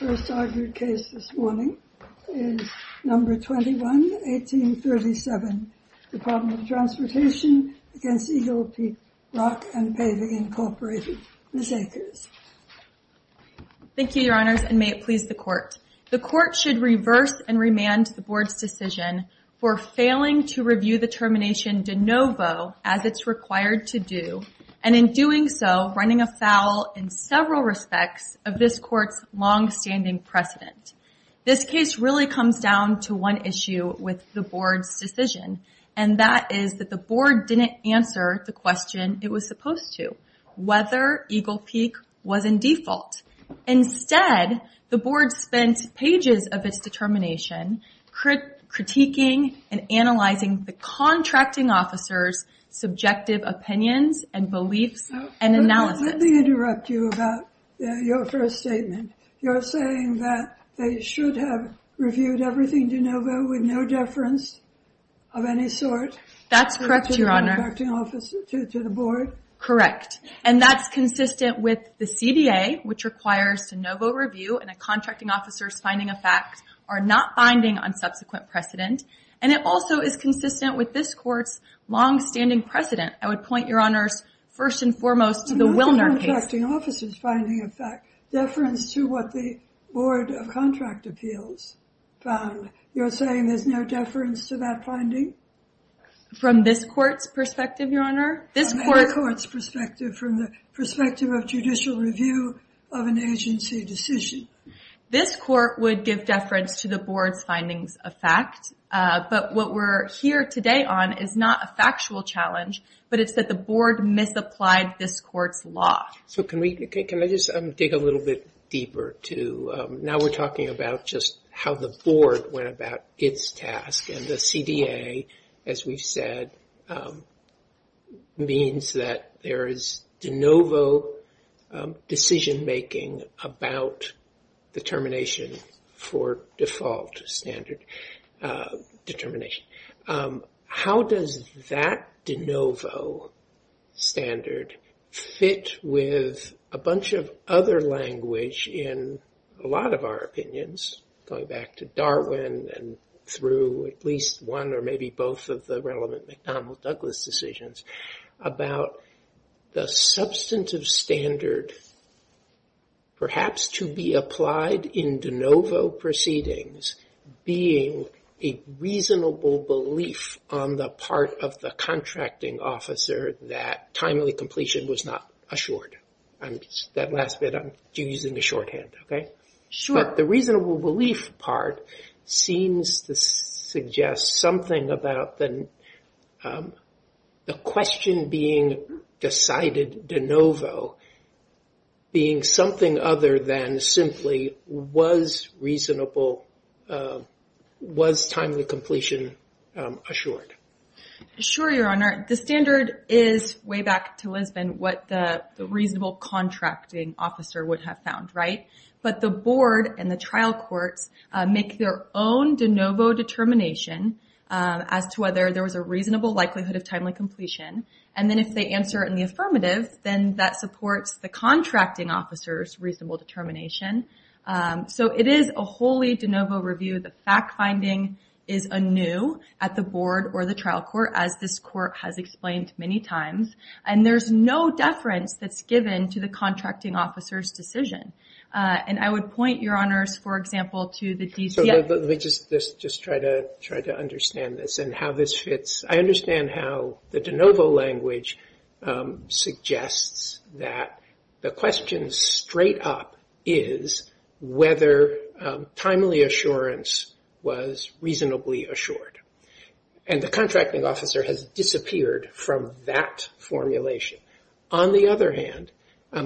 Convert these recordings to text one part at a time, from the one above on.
The first argued case this morning is No. 21, 1837, Department of Transportation v. Eagle Peak Rock & Paving, Inc., Ms. Akers. Thank you, Your Honors, and may it please the Court. The Court should reverse and remand the Board's decision for failing to review the termination de novo as it's required to do, and in doing so, running afoul in several respects of this Court's longstanding precedent. This case really comes down to one issue with the Board's decision, and that is that the Board didn't answer the question it was supposed to, whether Eagle Peak was in default. Instead, the Board spent pages of its determination critiquing and analyzing the contracting officer's subjective opinions and beliefs and analysis. Let me interrupt you about your first statement. You're saying that they should have reviewed everything de novo with no deference of any sort? That's correct, Your Honor. To the contracting officer, to the Board? Correct. And that's consistent with the CDA, which requires de novo review, and a contracting officer's finding of fact or not binding on subsequent precedent. And it also is consistent with this Court's longstanding precedent. I would point, Your Honors, first and foremost to the Wilner case. The contracting officer's finding of fact, deference to what the Board of Contract Appeals found. You're saying there's no deference to that finding? From this Court's perspective, Your Honor? This Court's perspective, from the perspective of judicial review of an agency decision. This Court would give deference to the Board's findings of fact, but what we're here today on is not a factual challenge, but it's that the Board misapplied this Court's law. So can I just dig a little bit deeper to, now we're talking about just how the Board went about its task, and the CDA, as we've said, means that there is de novo decision-making about determination for default standard determination. How does that de novo standard fit with a bunch of other language in a lot of our opinions, going back to Darwin and through at least one or maybe both of the relevant McDonald-Douglas decisions, about the substantive standard perhaps to be applied in de novo proceedings being a reasonable belief on the part of the contracting officer that timely completion was not assured? That last bit, I'm using the shorthand, okay? Sure. But the reasonable belief part seems to suggest something about the question being decided de novo being something other than simply was reasonable, was timely completion assured? Sure, Your Honor. The standard is, way back to Lisbon, what the reasonable contracting officer would have found, right? But the Board and the trial courts make their own de novo determination as to whether there was a reasonable likelihood of timely completion. And then if they answer in the affirmative, then that supports the contracting officer's reasonable determination. So it is a wholly de novo review. The fact-finding is anew at the Board or the trial court, as this court has explained many times. And there's no deference that's given to the contracting officer's decision. And I would point, Your Honors, for example, to the DC- So let me just try to understand this and how this fits. I understand how the de novo language suggests that the question straight up is whether timely assurance was reasonably assured. And the contracting officer has disappeared from that formulation. On the other hand,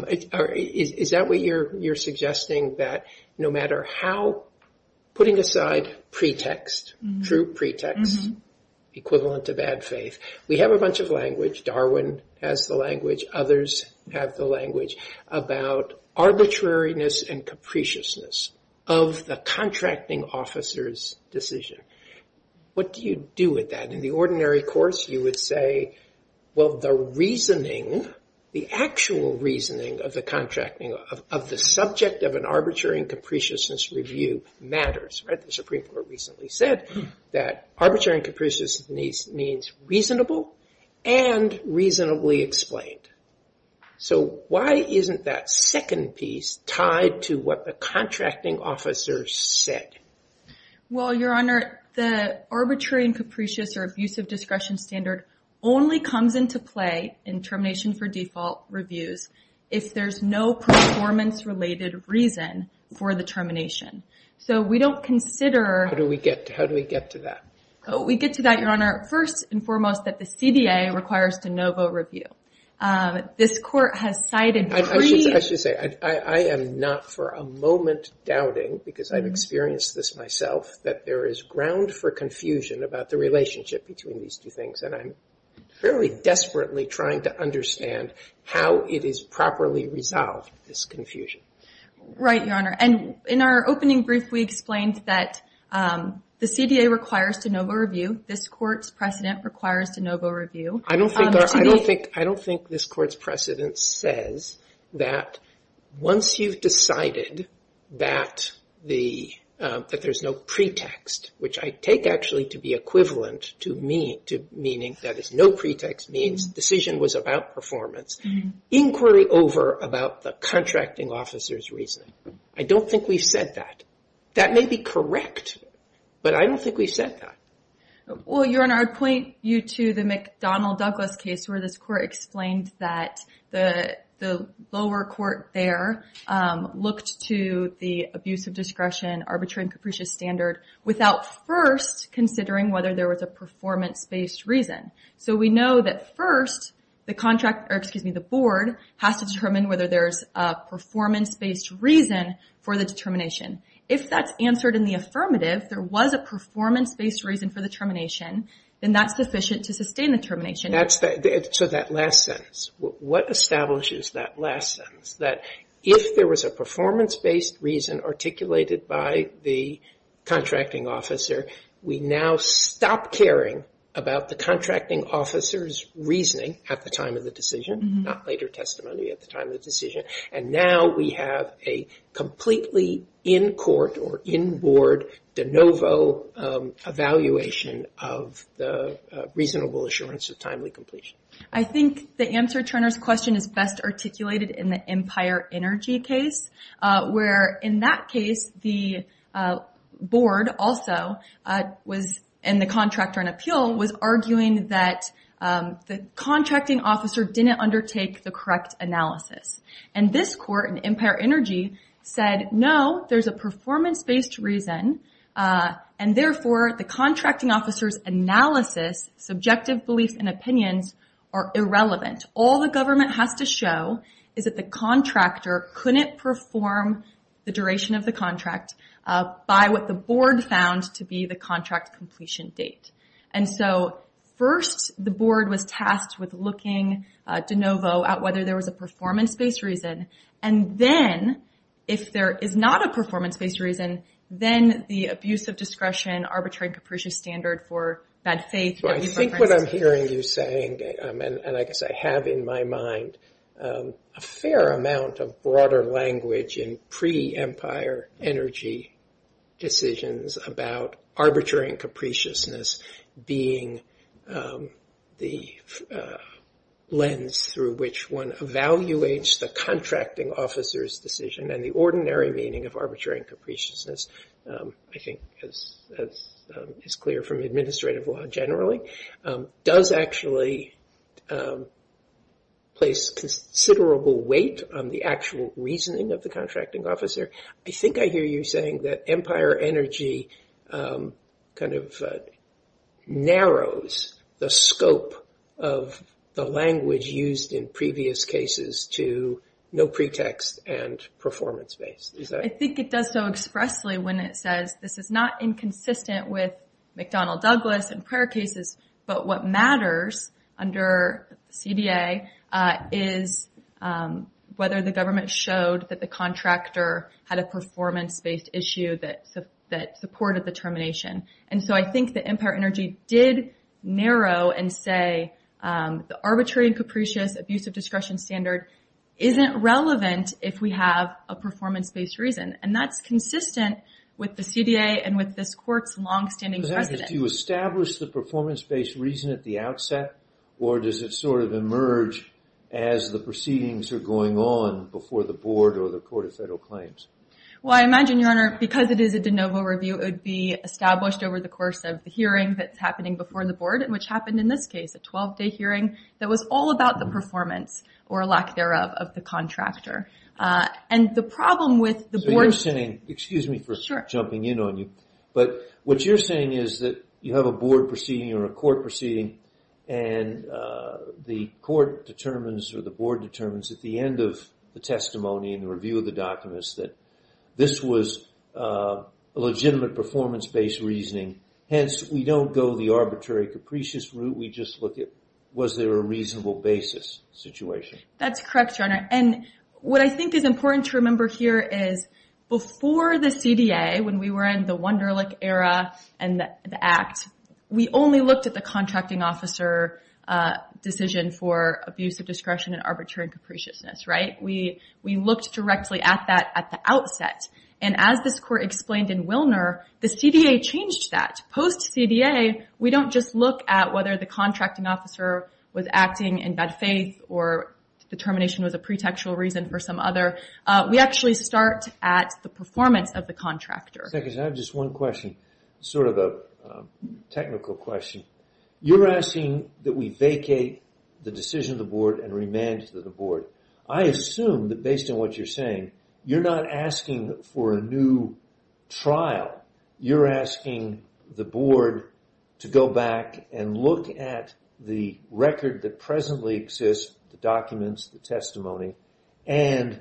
is that what you're suggesting? That no matter how- putting aside pretext, true pretext, equivalent to bad faith. We have a bunch of language. Darwin has the language. Others have the language about arbitrariness and capriciousness of the contracting officer's decision. What do you do with that? In the ordinary course, you would say, well, the reasoning, the actual reasoning of the contracting, of the subject of an arbitrary and capriciousness review matters. The Supreme Court recently said that arbitrary and capriciousness means reasonable and reasonably explained. So why isn't that second piece tied to what the contracting officer said? Well, Your Honor, the arbitrary and capricious or abusive discretion standard only comes into play in termination for default reviews if there's no performance-related reason for the termination. So we don't consider- How do we get to that? We get to that, Your Honor, first and foremost, that the CDA requires de novo review. This court has cited- I should say, I am not for a moment doubting, because I've experienced this myself, that there is ground for confusion about the relationship between these two things. And I'm fairly desperately trying to understand how it is properly resolved, this confusion. Right, Your Honor. And in our opening brief, we explained that the CDA requires de novo review. This Court's precedent requires de novo review. I don't think this Court's precedent says that once you've decided that there's no pretext, which I take actually to be equivalent to meaning that there's no pretext, means the decision was about performance, inquiry over about the contracting officer's reasoning. I don't think we've said that. That may be correct, but I don't think we've said that. Well, Your Honor, I'd point you to the McDonnell-Douglas case, where this Court explained that the lower court there looked to the abuse of discretion, arbitrary and capricious standard, without first considering whether there was a performance-based reason. So we know that first, the board has to determine whether there's a performance-based reason for the determination. If that's answered in the affirmative, there was a performance-based reason for the determination, then that's sufficient to sustain the determination. So that last sentence, what establishes that last sentence, that if there was a performance-based reason articulated by the contracting officer, we now stop caring about the contracting officer's reasoning at the time of the decision, not later testimony at the time of the decision, and now we have a completely in-court or in-board de novo evaluation of the reasonable assurance of timely completion. I think the answer to Turner's question is best articulated in the Empire Energy case, where in that case, the board also, and the contractor in appeal, was arguing that the contracting officer didn't undertake the correct analysis. And this court in Empire Energy said, no, there's a performance-based reason, and therefore the contracting officer's analysis, subjective beliefs, and opinions are irrelevant. All the government has to show is that the contractor couldn't perform the duration of the contract by what the board found to be the contract completion date. And so first the board was tasked with looking de novo at whether there was a performance-based reason, and then if there is not a performance-based reason, then the abuse of discretion, arbitrary and capricious standard for bad faith that we've referenced. I think what I'm hearing you saying, and I guess I have in my mind, a fair amount of broader language in pre-Empire Energy decisions about arbitrary and capriciousness being the lens through which one evaluates the contracting officer's decision and the ordinary meaning of arbitrary and capriciousness, I think as is clear from administrative law generally, does actually place considerable weight on the actual reasoning of the contracting officer. I think I hear you saying that Empire Energy kind of narrows the scope of the language used in previous cases to no pretext and performance-based. I think it does so expressly when it says this is not inconsistent with McDonnell-Douglas and prior cases, but what matters under CDA is whether the government showed that the contractor had a performance-based issue that supported the termination. And so I think that Empire Energy did narrow and say the arbitrary and capricious abuse of discretion standard isn't relevant if we have a performance-based reason. And that's consistent with the CDA and with this Court's long-standing precedent. Does that mean you establish the performance-based reason at the outset, or does it sort of emerge as the proceedings are going on before the Board or the Court of Federal Claims? Well, I imagine, Your Honor, because it is a de novo review, it would be established over the course of the hearing that's happening before the Board, which happened in this case, a 12-day hearing that was all about the performance or lack thereof of the contractor. And the problem with the Board... So you're saying, excuse me for jumping in on you, but what you're saying is that you have a Board proceeding or a Court proceeding, and the Court determines or the Board determines at the end of the testimony and the review of the documents that this was a legitimate performance-based reasoning. Hence, we don't go the arbitrary capricious route. We just look at was there a reasonable basis situation. That's correct, Your Honor. And what I think is important to remember here is before the CDA, when we were in the Wunderlich era and the Act, we only looked at the contracting officer decision for abuse of discretion and arbitrary capriciousness, right? We looked directly at that at the outset. And as this Court explained in Wilner, the CDA changed that. Post-CDA, we don't just look at whether the contracting officer was acting in bad faith or the termination was a pretextual reason for some other. We actually start at the performance of the contractor. Second, I have just one question, sort of a technical question. You're asking that we vacate the decision of the Board and remand to the Board. I assume that based on what you're saying, you're not asking for a new trial. You're asking the Board to go back and look at the record that presently exists, the documents, the testimony, and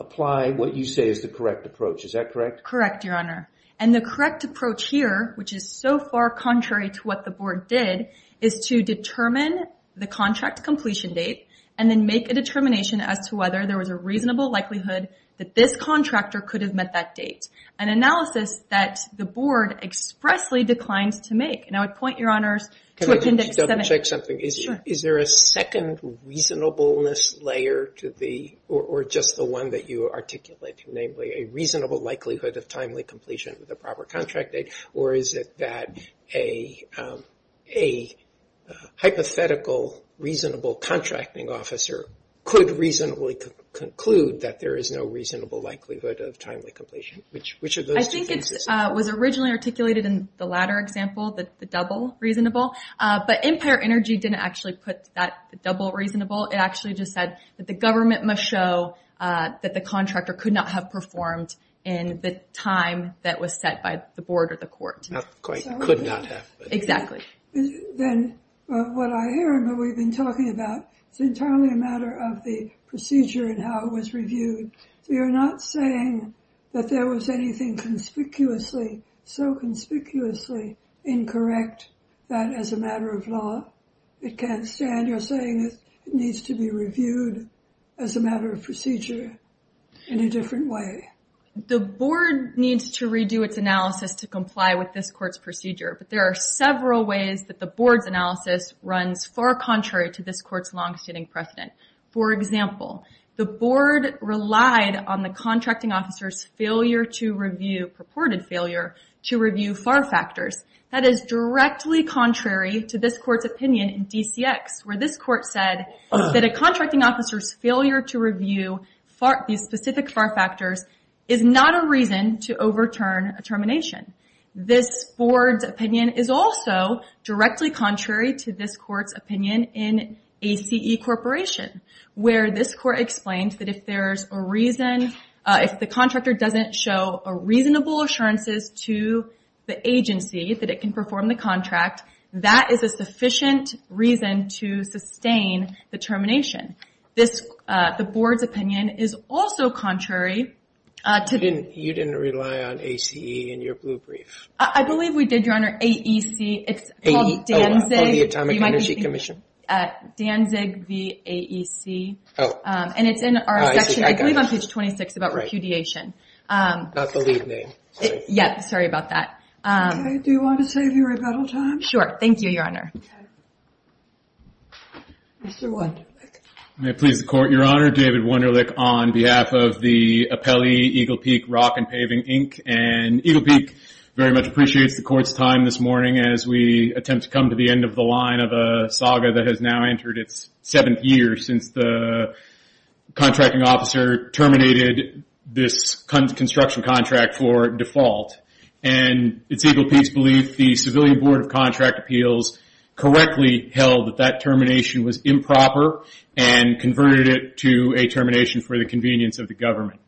apply what you say is the correct approach. Is that correct? Correct, Your Honor. And the correct approach here, which is so far contrary to what the Board did, is to determine the contract completion date and then make a determination as to whether there was a reasonable likelihood that this contractor could have met that date, an analysis that the Board expressly declined to make. And I would point, Your Honors, to Appendix 7. Can I double-check something? Sure. Is there a second reasonableness layer to the, or just the one that you articulated, namely a reasonable likelihood of timely completion with a proper contract date, or is it that a hypothetical reasonable contracting officer could reasonably conclude that there is no reasonable likelihood of timely completion? Which of those two things is it? I think it was originally articulated in the latter example, the double reasonable, but Empire Energy didn't actually put that double reasonable. It actually just said that the government must show that the contractor could not have performed in the time that was set by the Board or the Court. Could not have. Exactly. Then what I hear and what we've been talking about, it's entirely a matter of the procedure and how it was reviewed. You're not saying that there was anything conspicuously, so conspicuously incorrect that as a matter of law it can't stand. You're saying it needs to be reviewed as a matter of procedure. In a different way. The Board needs to redo its analysis to comply with this Court's procedure, but there are several ways that the Board's analysis runs far contrary to this Court's longstanding precedent. For example, the Board relied on the contracting officer's failure to review, purported failure to review FAR factors. That is directly contrary to this Court's opinion in DCX, where this Court said that a contracting officer's failure to review these specific FAR factors is not a reason to overturn a termination. This Board's opinion is also directly contrary to this Court's opinion in ACE Corporation, where this Court explained that if the contractor doesn't show reasonable assurances to the agency that it can perform the contract, that is a sufficient reason to sustain the termination. The Board's opinion is also contrary. You didn't rely on ACE in your blue brief? I believe we did, Your Honor. AEC, it's called Danzig. Oh, the Atomic Energy Commission? Danzig v. AEC. Oh. And it's in our section, I believe on page 26, about repudiation. Not the lead name. Yeah, sorry about that. Okay. Do you want to save your rebuttal time? Sure. Thank you, Your Honor. Okay. Mr. Wunderlich. May it please the Court, Your Honor. David Wunderlich on behalf of the Apelli Eagle Peak Rock and Paving, Inc. And Eagle Peak very much appreciates the Court's time this morning as we attempt to come to the end of the line of a saga that has now entered its seventh year since the contracting officer terminated this construction contract for default. And it's Eagle Peak's belief the Civilian Board of Contract Appeals correctly held that that termination was improper and converted it to a termination for the convenience of the government.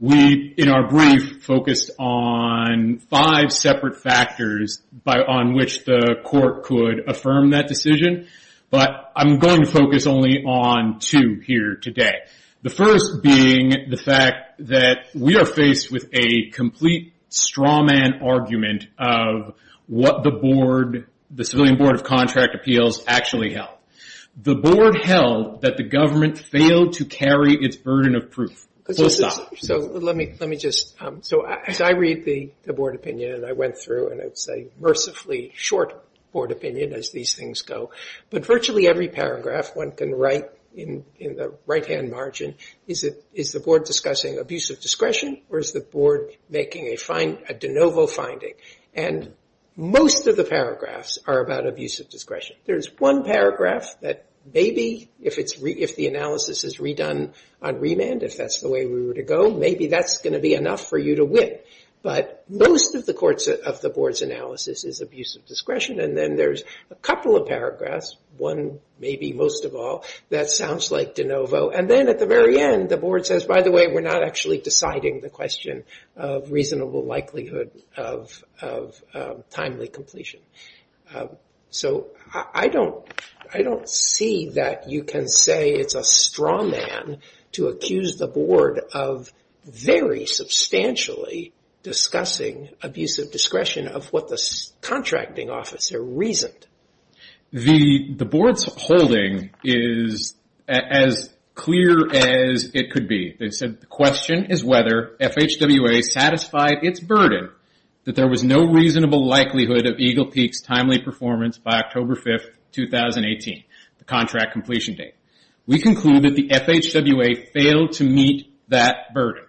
We, in our brief, focused on five separate factors on which the Court could affirm that decision. But I'm going to focus only on two here today. The first being the fact that we are faced with a complete straw man argument of what the Civilian Board of Contract Appeals actually held. The Board held that the government failed to carry its burden of proof. So let me just, as I read the Board opinion and I went through, and it's a mercifully short Board opinion as these things go, but virtually every paragraph one can write in the right-hand margin is the Board discussing abuse of discretion or is the Board making a de novo finding. And most of the paragraphs are about abuse of discretion. There's one paragraph that maybe if the analysis is redone on remand, if that's the way we were to go, maybe that's going to be enough for you to win. And then there's a couple of paragraphs, one maybe most of all, that sounds like de novo. And then at the very end, the Board says, by the way, we're not actually deciding the question of reasonable likelihood of timely completion. So I don't see that you can say it's a straw man to accuse the Board of very substantially discussing abuse of discretion of what the contracting officer reasoned. The Board's holding is as clear as it could be. They said the question is whether FHWA satisfied its burden that there was no reasonable likelihood of Eagle Peak's timely performance by October 5th, 2018, the contract completion date. We conclude that the FHWA failed to meet that burden.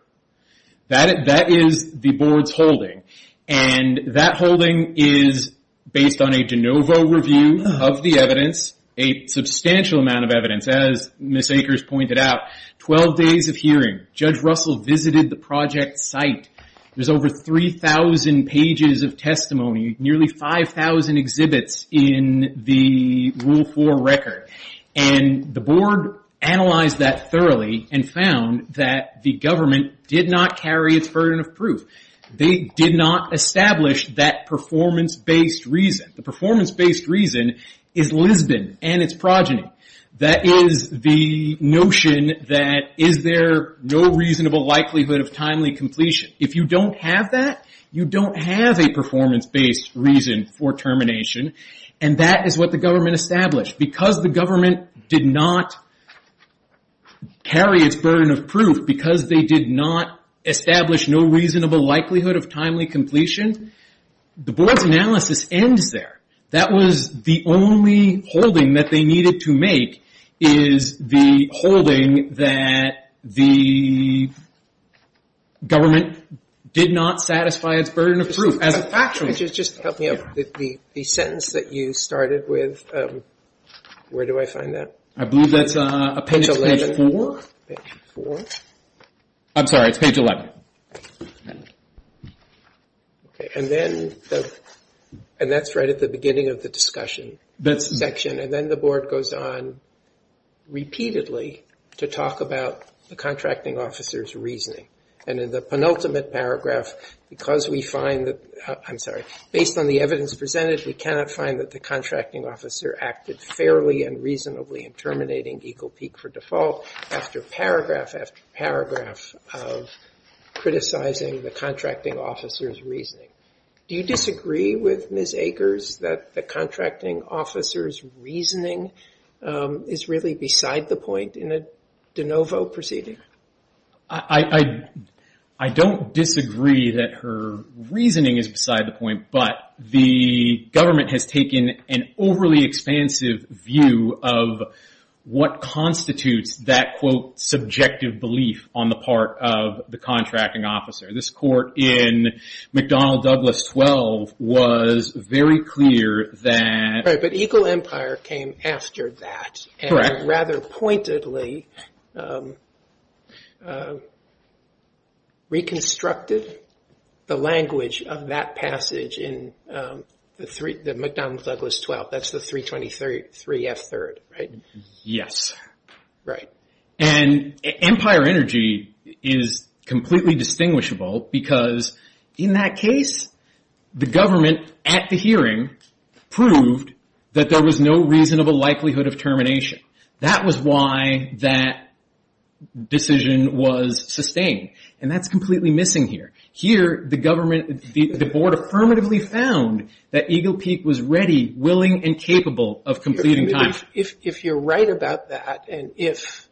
That is the Board's holding. And that holding is based on a de novo review of the evidence, a substantial amount of evidence, as Ms. Akers pointed out, 12 days of hearing. Judge Russell visited the project site. There's over 3,000 pages of testimony, nearly 5,000 exhibits in the Rule 4 record. And the Board analyzed that thoroughly and found that the government did not carry its burden of proof. They did not establish that performance-based reason. The performance-based reason is Lisbon and its progeny. That is the notion that is there no reasonable likelihood of timely completion. If you don't have that, you don't have a performance-based reason for termination. And that is what the government established. Because the government did not carry its burden of proof, because they did not establish no reasonable likelihood of timely completion, the Board's analysis ends there. That was the only holding that they needed to make, is the holding that the government did not satisfy its burden of proof. Just help me out. The sentence that you started with, where do I find that? I believe that's page 11. I'm sorry, it's page 11. And that's right at the beginning of the discussion section. And then the Board goes on repeatedly to talk about the contracting officer's reasoning. And in the penultimate paragraph, because we find that, I'm sorry, based on the evidence presented, we cannot find that the contracting officer acted fairly and reasonably in terminating Eagle Peak for default after paragraph after paragraph of criticizing the contracting officer's reasoning. Do you disagree with Ms. Akers that the contracting officer's reasoning is really beside the point in a de novo proceeding? I don't disagree that her reasoning is beside the point, but the government has taken an overly expansive view of what constitutes that, quote, subjective belief on the part of the contracting officer. This court in McDonnell-Douglas 12 was very clear that... Right, but Eagle Empire came after that. Correct. And rather pointedly reconstructed the language of that passage in the McDonnell-Douglas 12. That's the 323 F3rd, right? Yes. Right. And Empire Energy is completely distinguishable because in that case, the government at the hearing proved that there was no reasonable likelihood of termination. That was why that decision was sustained, and that's completely missing here. Here, the board affirmatively found that Eagle Peak was ready, willing, and capable of completing time. If you're right about that, and if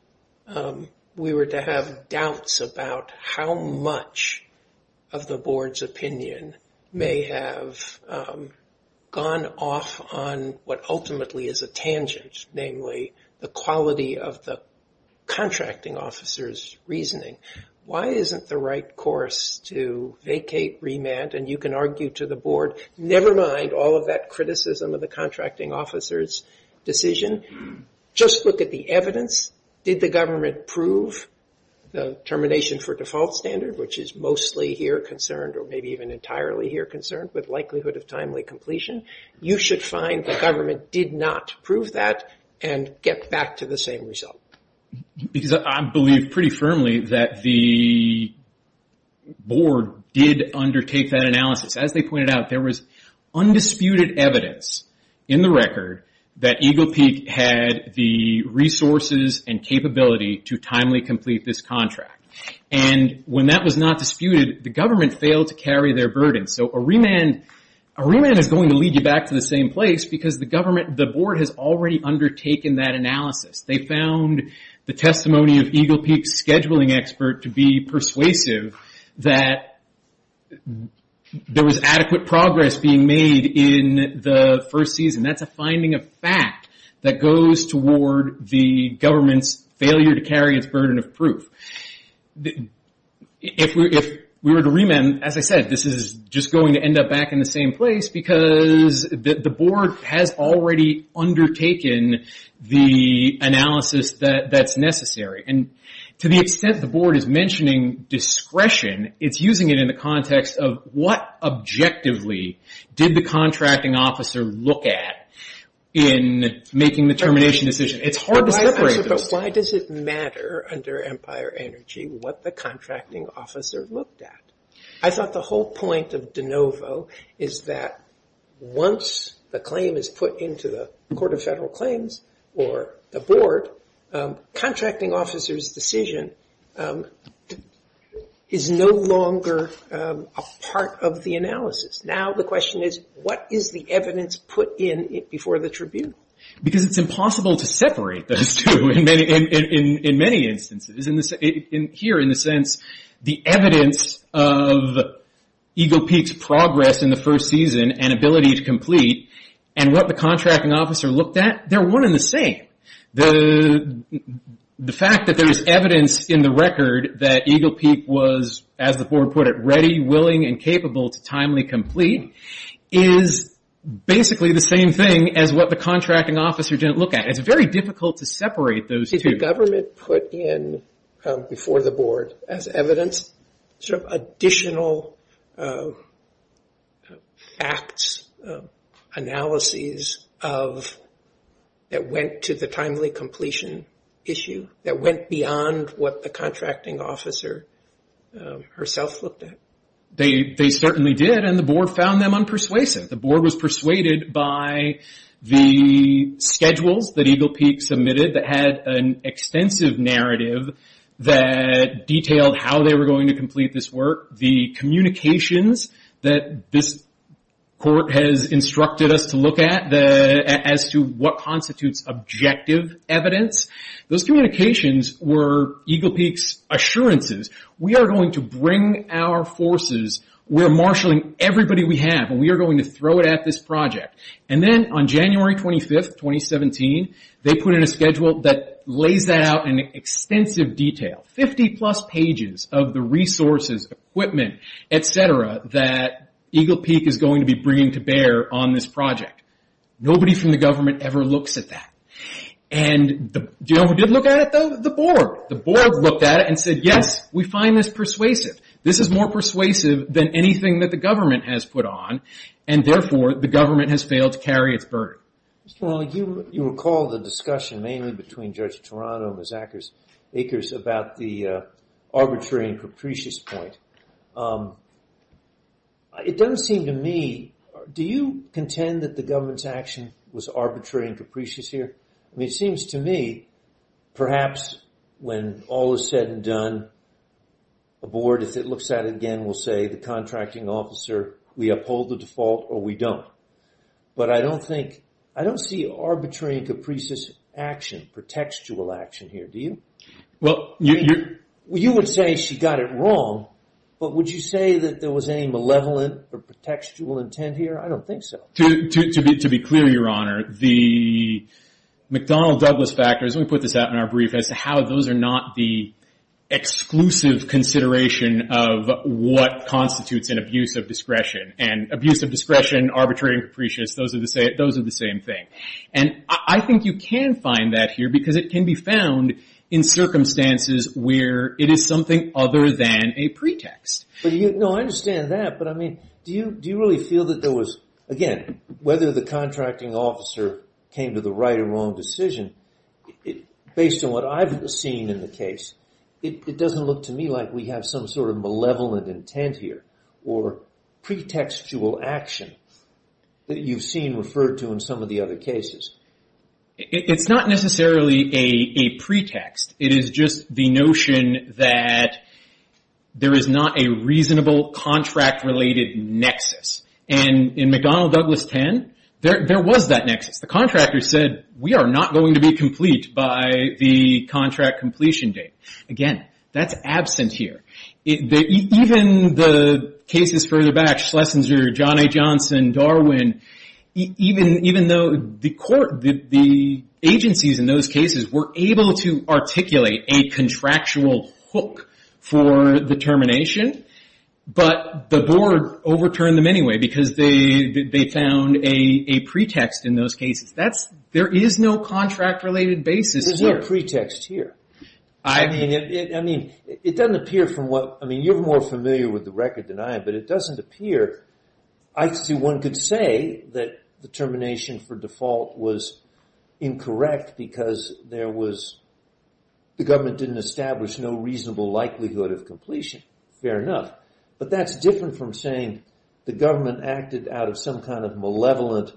we were to have doubts about how much of the board's opinion may have gone off on what ultimately is a tangent, namely the quality of the contracting officer's reasoning, why isn't the right course to vacate, remand, and you can argue to the board, never mind all of that criticism of the contracting officer's decision, just look at the evidence. Did the government prove the termination for default standard, which is mostly here concerned or maybe even entirely here concerned with likelihood of timely completion? You should find the government did not prove that and get back to the same result. Because I believe pretty firmly that the board did undertake that analysis. As they pointed out, there was undisputed evidence in the record that Eagle Peak had the resources and capability to timely complete this contract. When that was not disputed, the government failed to carry their burden. A remand is going to lead you back to the same place because the board has already undertaken that analysis. They found the testimony of Eagle Peak's scheduling expert to be persuasive that there was adequate progress being made in the first season. That's a finding of fact that goes toward the government's failure to carry its burden of proof. If we were to remand, as I said, this is just going to end up back in the same place because the board has already undertaken the analysis that's necessary. And to the extent the board is mentioning discretion, it's using it in the context of what objectively did the contracting officer look at in making the termination decision. It's hard to separate this. Why does it matter under Empire Energy what the contracting officer looked at? I thought the whole point of de novo is that once the claim is put into the Court of Federal Claims or the board, contracting officer's decision is no longer a part of the analysis. Now the question is, what is the evidence put in before the tribute? Because it's impossible to separate those two in many instances. Here in the sense, the evidence of Eagle Peak's progress in the first season and ability to complete and what the contracting officer looked at, they're one and the same. The fact that there's evidence in the record that Eagle Peak was, as the board put it, ready, willing, and capable to timely complete is basically the same thing as what the contracting officer didn't look at. It's very difficult to separate those two. Is the government put in before the board as evidence additional facts, analyses that went to the timely completion issue, that went beyond what the contracting officer herself looked at? They certainly did, and the board found them unpersuasive. The board was persuaded by the schedules that Eagle Peak submitted that had an extensive narrative that detailed how they were going to complete this work, the communications that this court has instructed us to look at as to what constitutes objective evidence. Those communications were Eagle Peak's assurances. We are going to bring our forces. We're marshalling everybody we have, and we are going to throw it at this project. And then on January 25th, 2017, they put in a schedule that lays that out in extensive detail, 50-plus pages of the resources, equipment, et cetera, that Eagle Peak is going to be bringing to bear on this project. Nobody from the government ever looks at that. And do you know who did look at it? The board. The board looked at it and said, yes, we find this persuasive. This is more persuasive than anything that the government has put on, and therefore the government has failed to carry its burden. Well, you recall the discussion mainly between Judge Toronto and Miss Akers about the arbitrary and capricious point. It doesn't seem to me, do you contend that the government's action was arbitrary and capricious here? I mean, it seems to me perhaps when all is said and done, the board, if it looks at it again, will say, the contracting officer, we uphold the default or we don't. But I don't think, I don't see arbitrary and capricious action, pretextual action here, do you? Well, you're... You would say she got it wrong, but would you say that there was any malevolent or pretextual intent here? I don't think so. To be clear, Your Honor, the McDonnell-Douglas factors, let me put this out in our brief, as to how those are not the exclusive consideration of what constitutes an abuse of discretion. And abuse of discretion, arbitrary and capricious, those are the same thing. And I think you can find that here because it can be found in circumstances where it is something other than a pretext. No, I understand that, but I mean, do you really feel that there was, again, whether the contracting officer came to the right or wrong decision, based on what I've seen in the case, it doesn't look to me like we have some sort of malevolent intent here or pretextual action that you've seen referred to in some of the other cases. It's not necessarily a pretext. It is just the notion that there is not a reasonable contract-related nexus. And in McDonnell-Douglas 10, there was that nexus. The contractor said, we are not going to be complete by the contract completion date. Again, that's absent here. Even the cases further back, Schlesinger, John A. Johnson, Darwin, even though the agencies in those cases were able to articulate a contractual hook for the termination, but the board overturned them anyway because they found a pretext in those cases. There is no contract-related basis here. There's no pretext here. I mean, it doesn't appear from what, I mean, you're more familiar with the record than I am, but it doesn't appear. I see one could say that the termination for default was incorrect because there was, the government didn't establish no reasonable likelihood of completion. Fair enough. But that's different from saying the government acted out of some kind of malevolent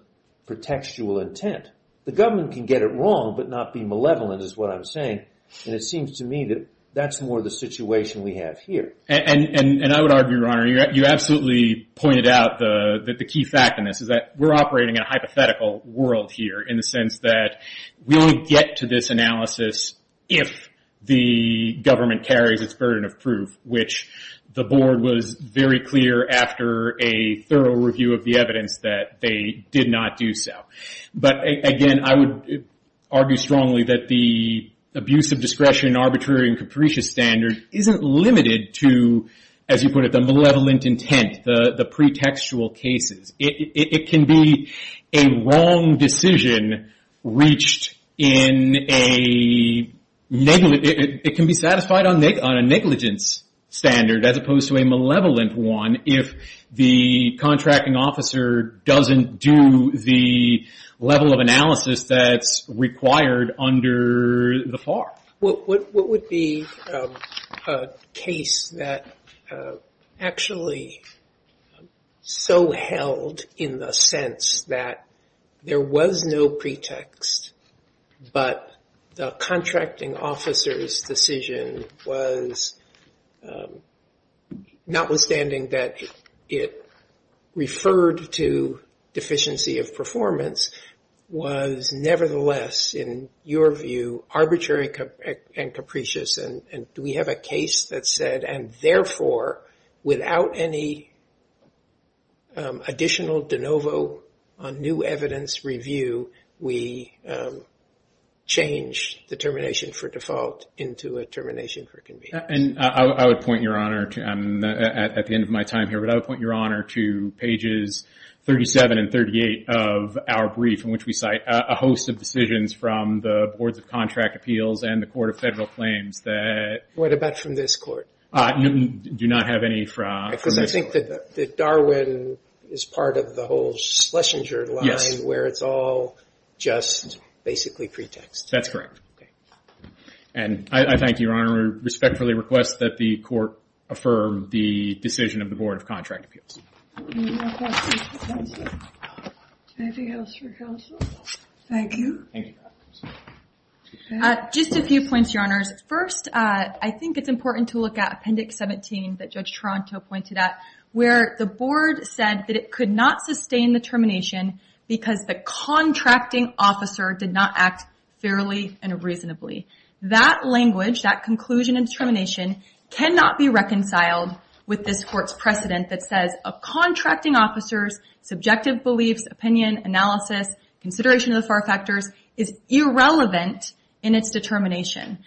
pretextual intent. The government can get it wrong but not be malevolent is what I'm saying. And it seems to me that that's more the situation we have here. And I would argue, Your Honor, you absolutely pointed out that the key fact in this is that we're operating in a hypothetical world here in the sense that we only get to this analysis if the government carries its burden of proof, which the board was very clear after a thorough review of the evidence that they did not do so. But again, I would argue strongly that the abuse of discretion, arbitrary, and capricious standard isn't limited to, as you put it, the malevolent intent, the pretextual cases. It can be a wrong decision reached in a, it can be satisfied on a negligence standard as opposed to a malevolent one if the contracting officer doesn't do the level of analysis that's required under the FAR. What would be a case that actually so held in the sense that there was no pretext but the contracting officer's decision was, notwithstanding that it referred to deficiency of performance, was nevertheless, in your view, arbitrary and capricious and do we have a case that said, and therefore without any additional de novo on new evidence review, we change the termination for default into a termination for convenience? And I would point, Your Honor, at the end of my time here, but I would point, Your Honor, to pages 37 and 38 of our brief in which we cite a host of decisions from the Boards of Contract Appeals and the Court of Federal Claims that... What about from this Court? Do not have any from this Court. Because I think that Darwin is part of the whole Schlesinger line where it's all just basically pretext. That's correct. And I thank you, Your Honor, respectfully request that the Court affirm the decision of the Board of Contract Appeals. Any more questions for counsel? Anything else for counsel? Thank you. Just a few points, Your Honors. First, I think it's important to look at Appendix 17 that Judge Toronto pointed out where the Board said that it could not sustain the termination because the contracting officer did not act fairly and reasonably. That language, that conclusion and determination cannot be reconciled with this Court's precedent that says a contracting officer's subjective beliefs, opinion, analysis, consideration of the far factors is irrelevant in its determination.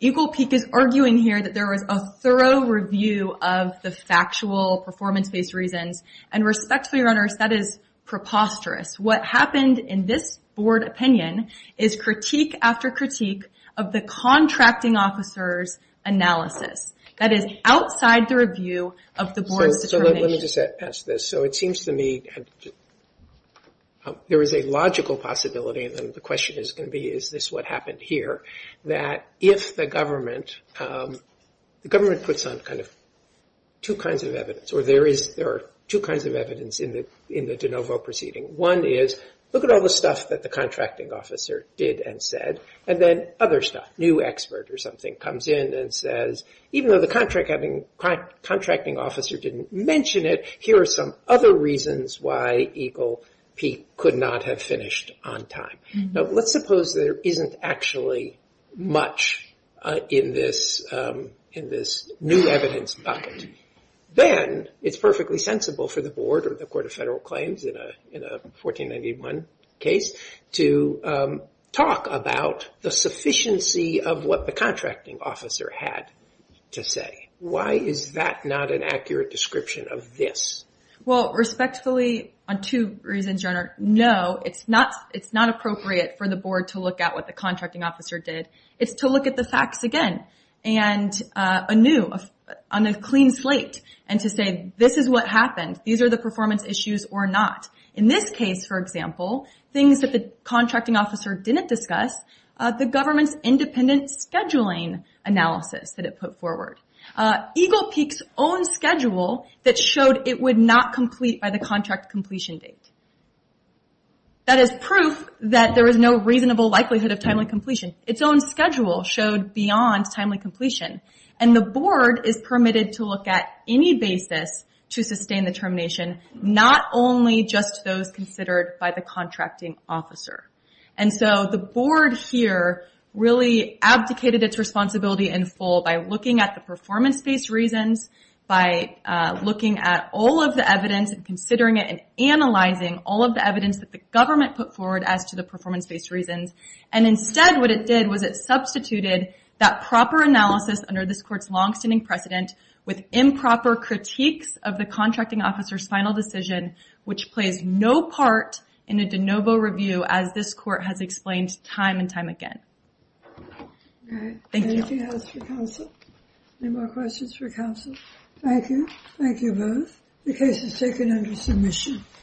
Eagle Peak is arguing here that there was a thorough review of the factual performance-based reasons, and respectfully, Your Honors, that is preposterous. What happened in this Board opinion is critique after critique of the contracting officer's analysis. That is outside the review of the Board's determination. So let me just ask this. So it seems to me there is a logical possibility, and the question is going to be is this what happened here, that if the government puts on kind of two kinds of evidence, or there are two kinds of evidence in the de novo proceeding. One is look at all the stuff that the contracting officer did and said, and then other stuff, new expert or something comes in and says, even though the contracting officer didn't mention it, here are some other reasons why Eagle Peak could not have finished on time. Now let's suppose there isn't actually much in this new evidence bucket. Then it's perfectly sensible for the Board or the Court of Federal Claims in a 1491 case to talk about the sufficiency of what the contracting officer had to say. Why is that not an accurate description of this? Well, respectfully, on two reasons, Your Honor. No, it's not appropriate for the Board to look at what the contracting officer did. It's to look at the facts again and anew on a clean slate and to say this is what happened. These are the performance issues or not. In this case, for example, things that the contracting officer didn't discuss, the government's independent scheduling analysis that it put forward. Eagle Peak's own schedule that showed it would not complete by the contract completion date. That is proof that there is no reasonable likelihood of timely completion. Its own schedule showed beyond timely completion. The Board is permitted to look at any basis to sustain the termination, not only just those considered by the contracting officer. The Board here really abdicated its responsibility in full by looking at the performance-based reasons, by looking at all of the evidence and considering it and analyzing all of the evidence that the government put forward as to the performance-based reasons. Instead, what it did was it substituted that proper analysis under this Court's longstanding precedent with improper critiques of the contracting officer's final decision, which plays no part in a de novo review as this Court has explained time and time again. Thank you. Anything else for counsel? Any more questions for counsel? Thank you. Thank you both. The case is taken under submission.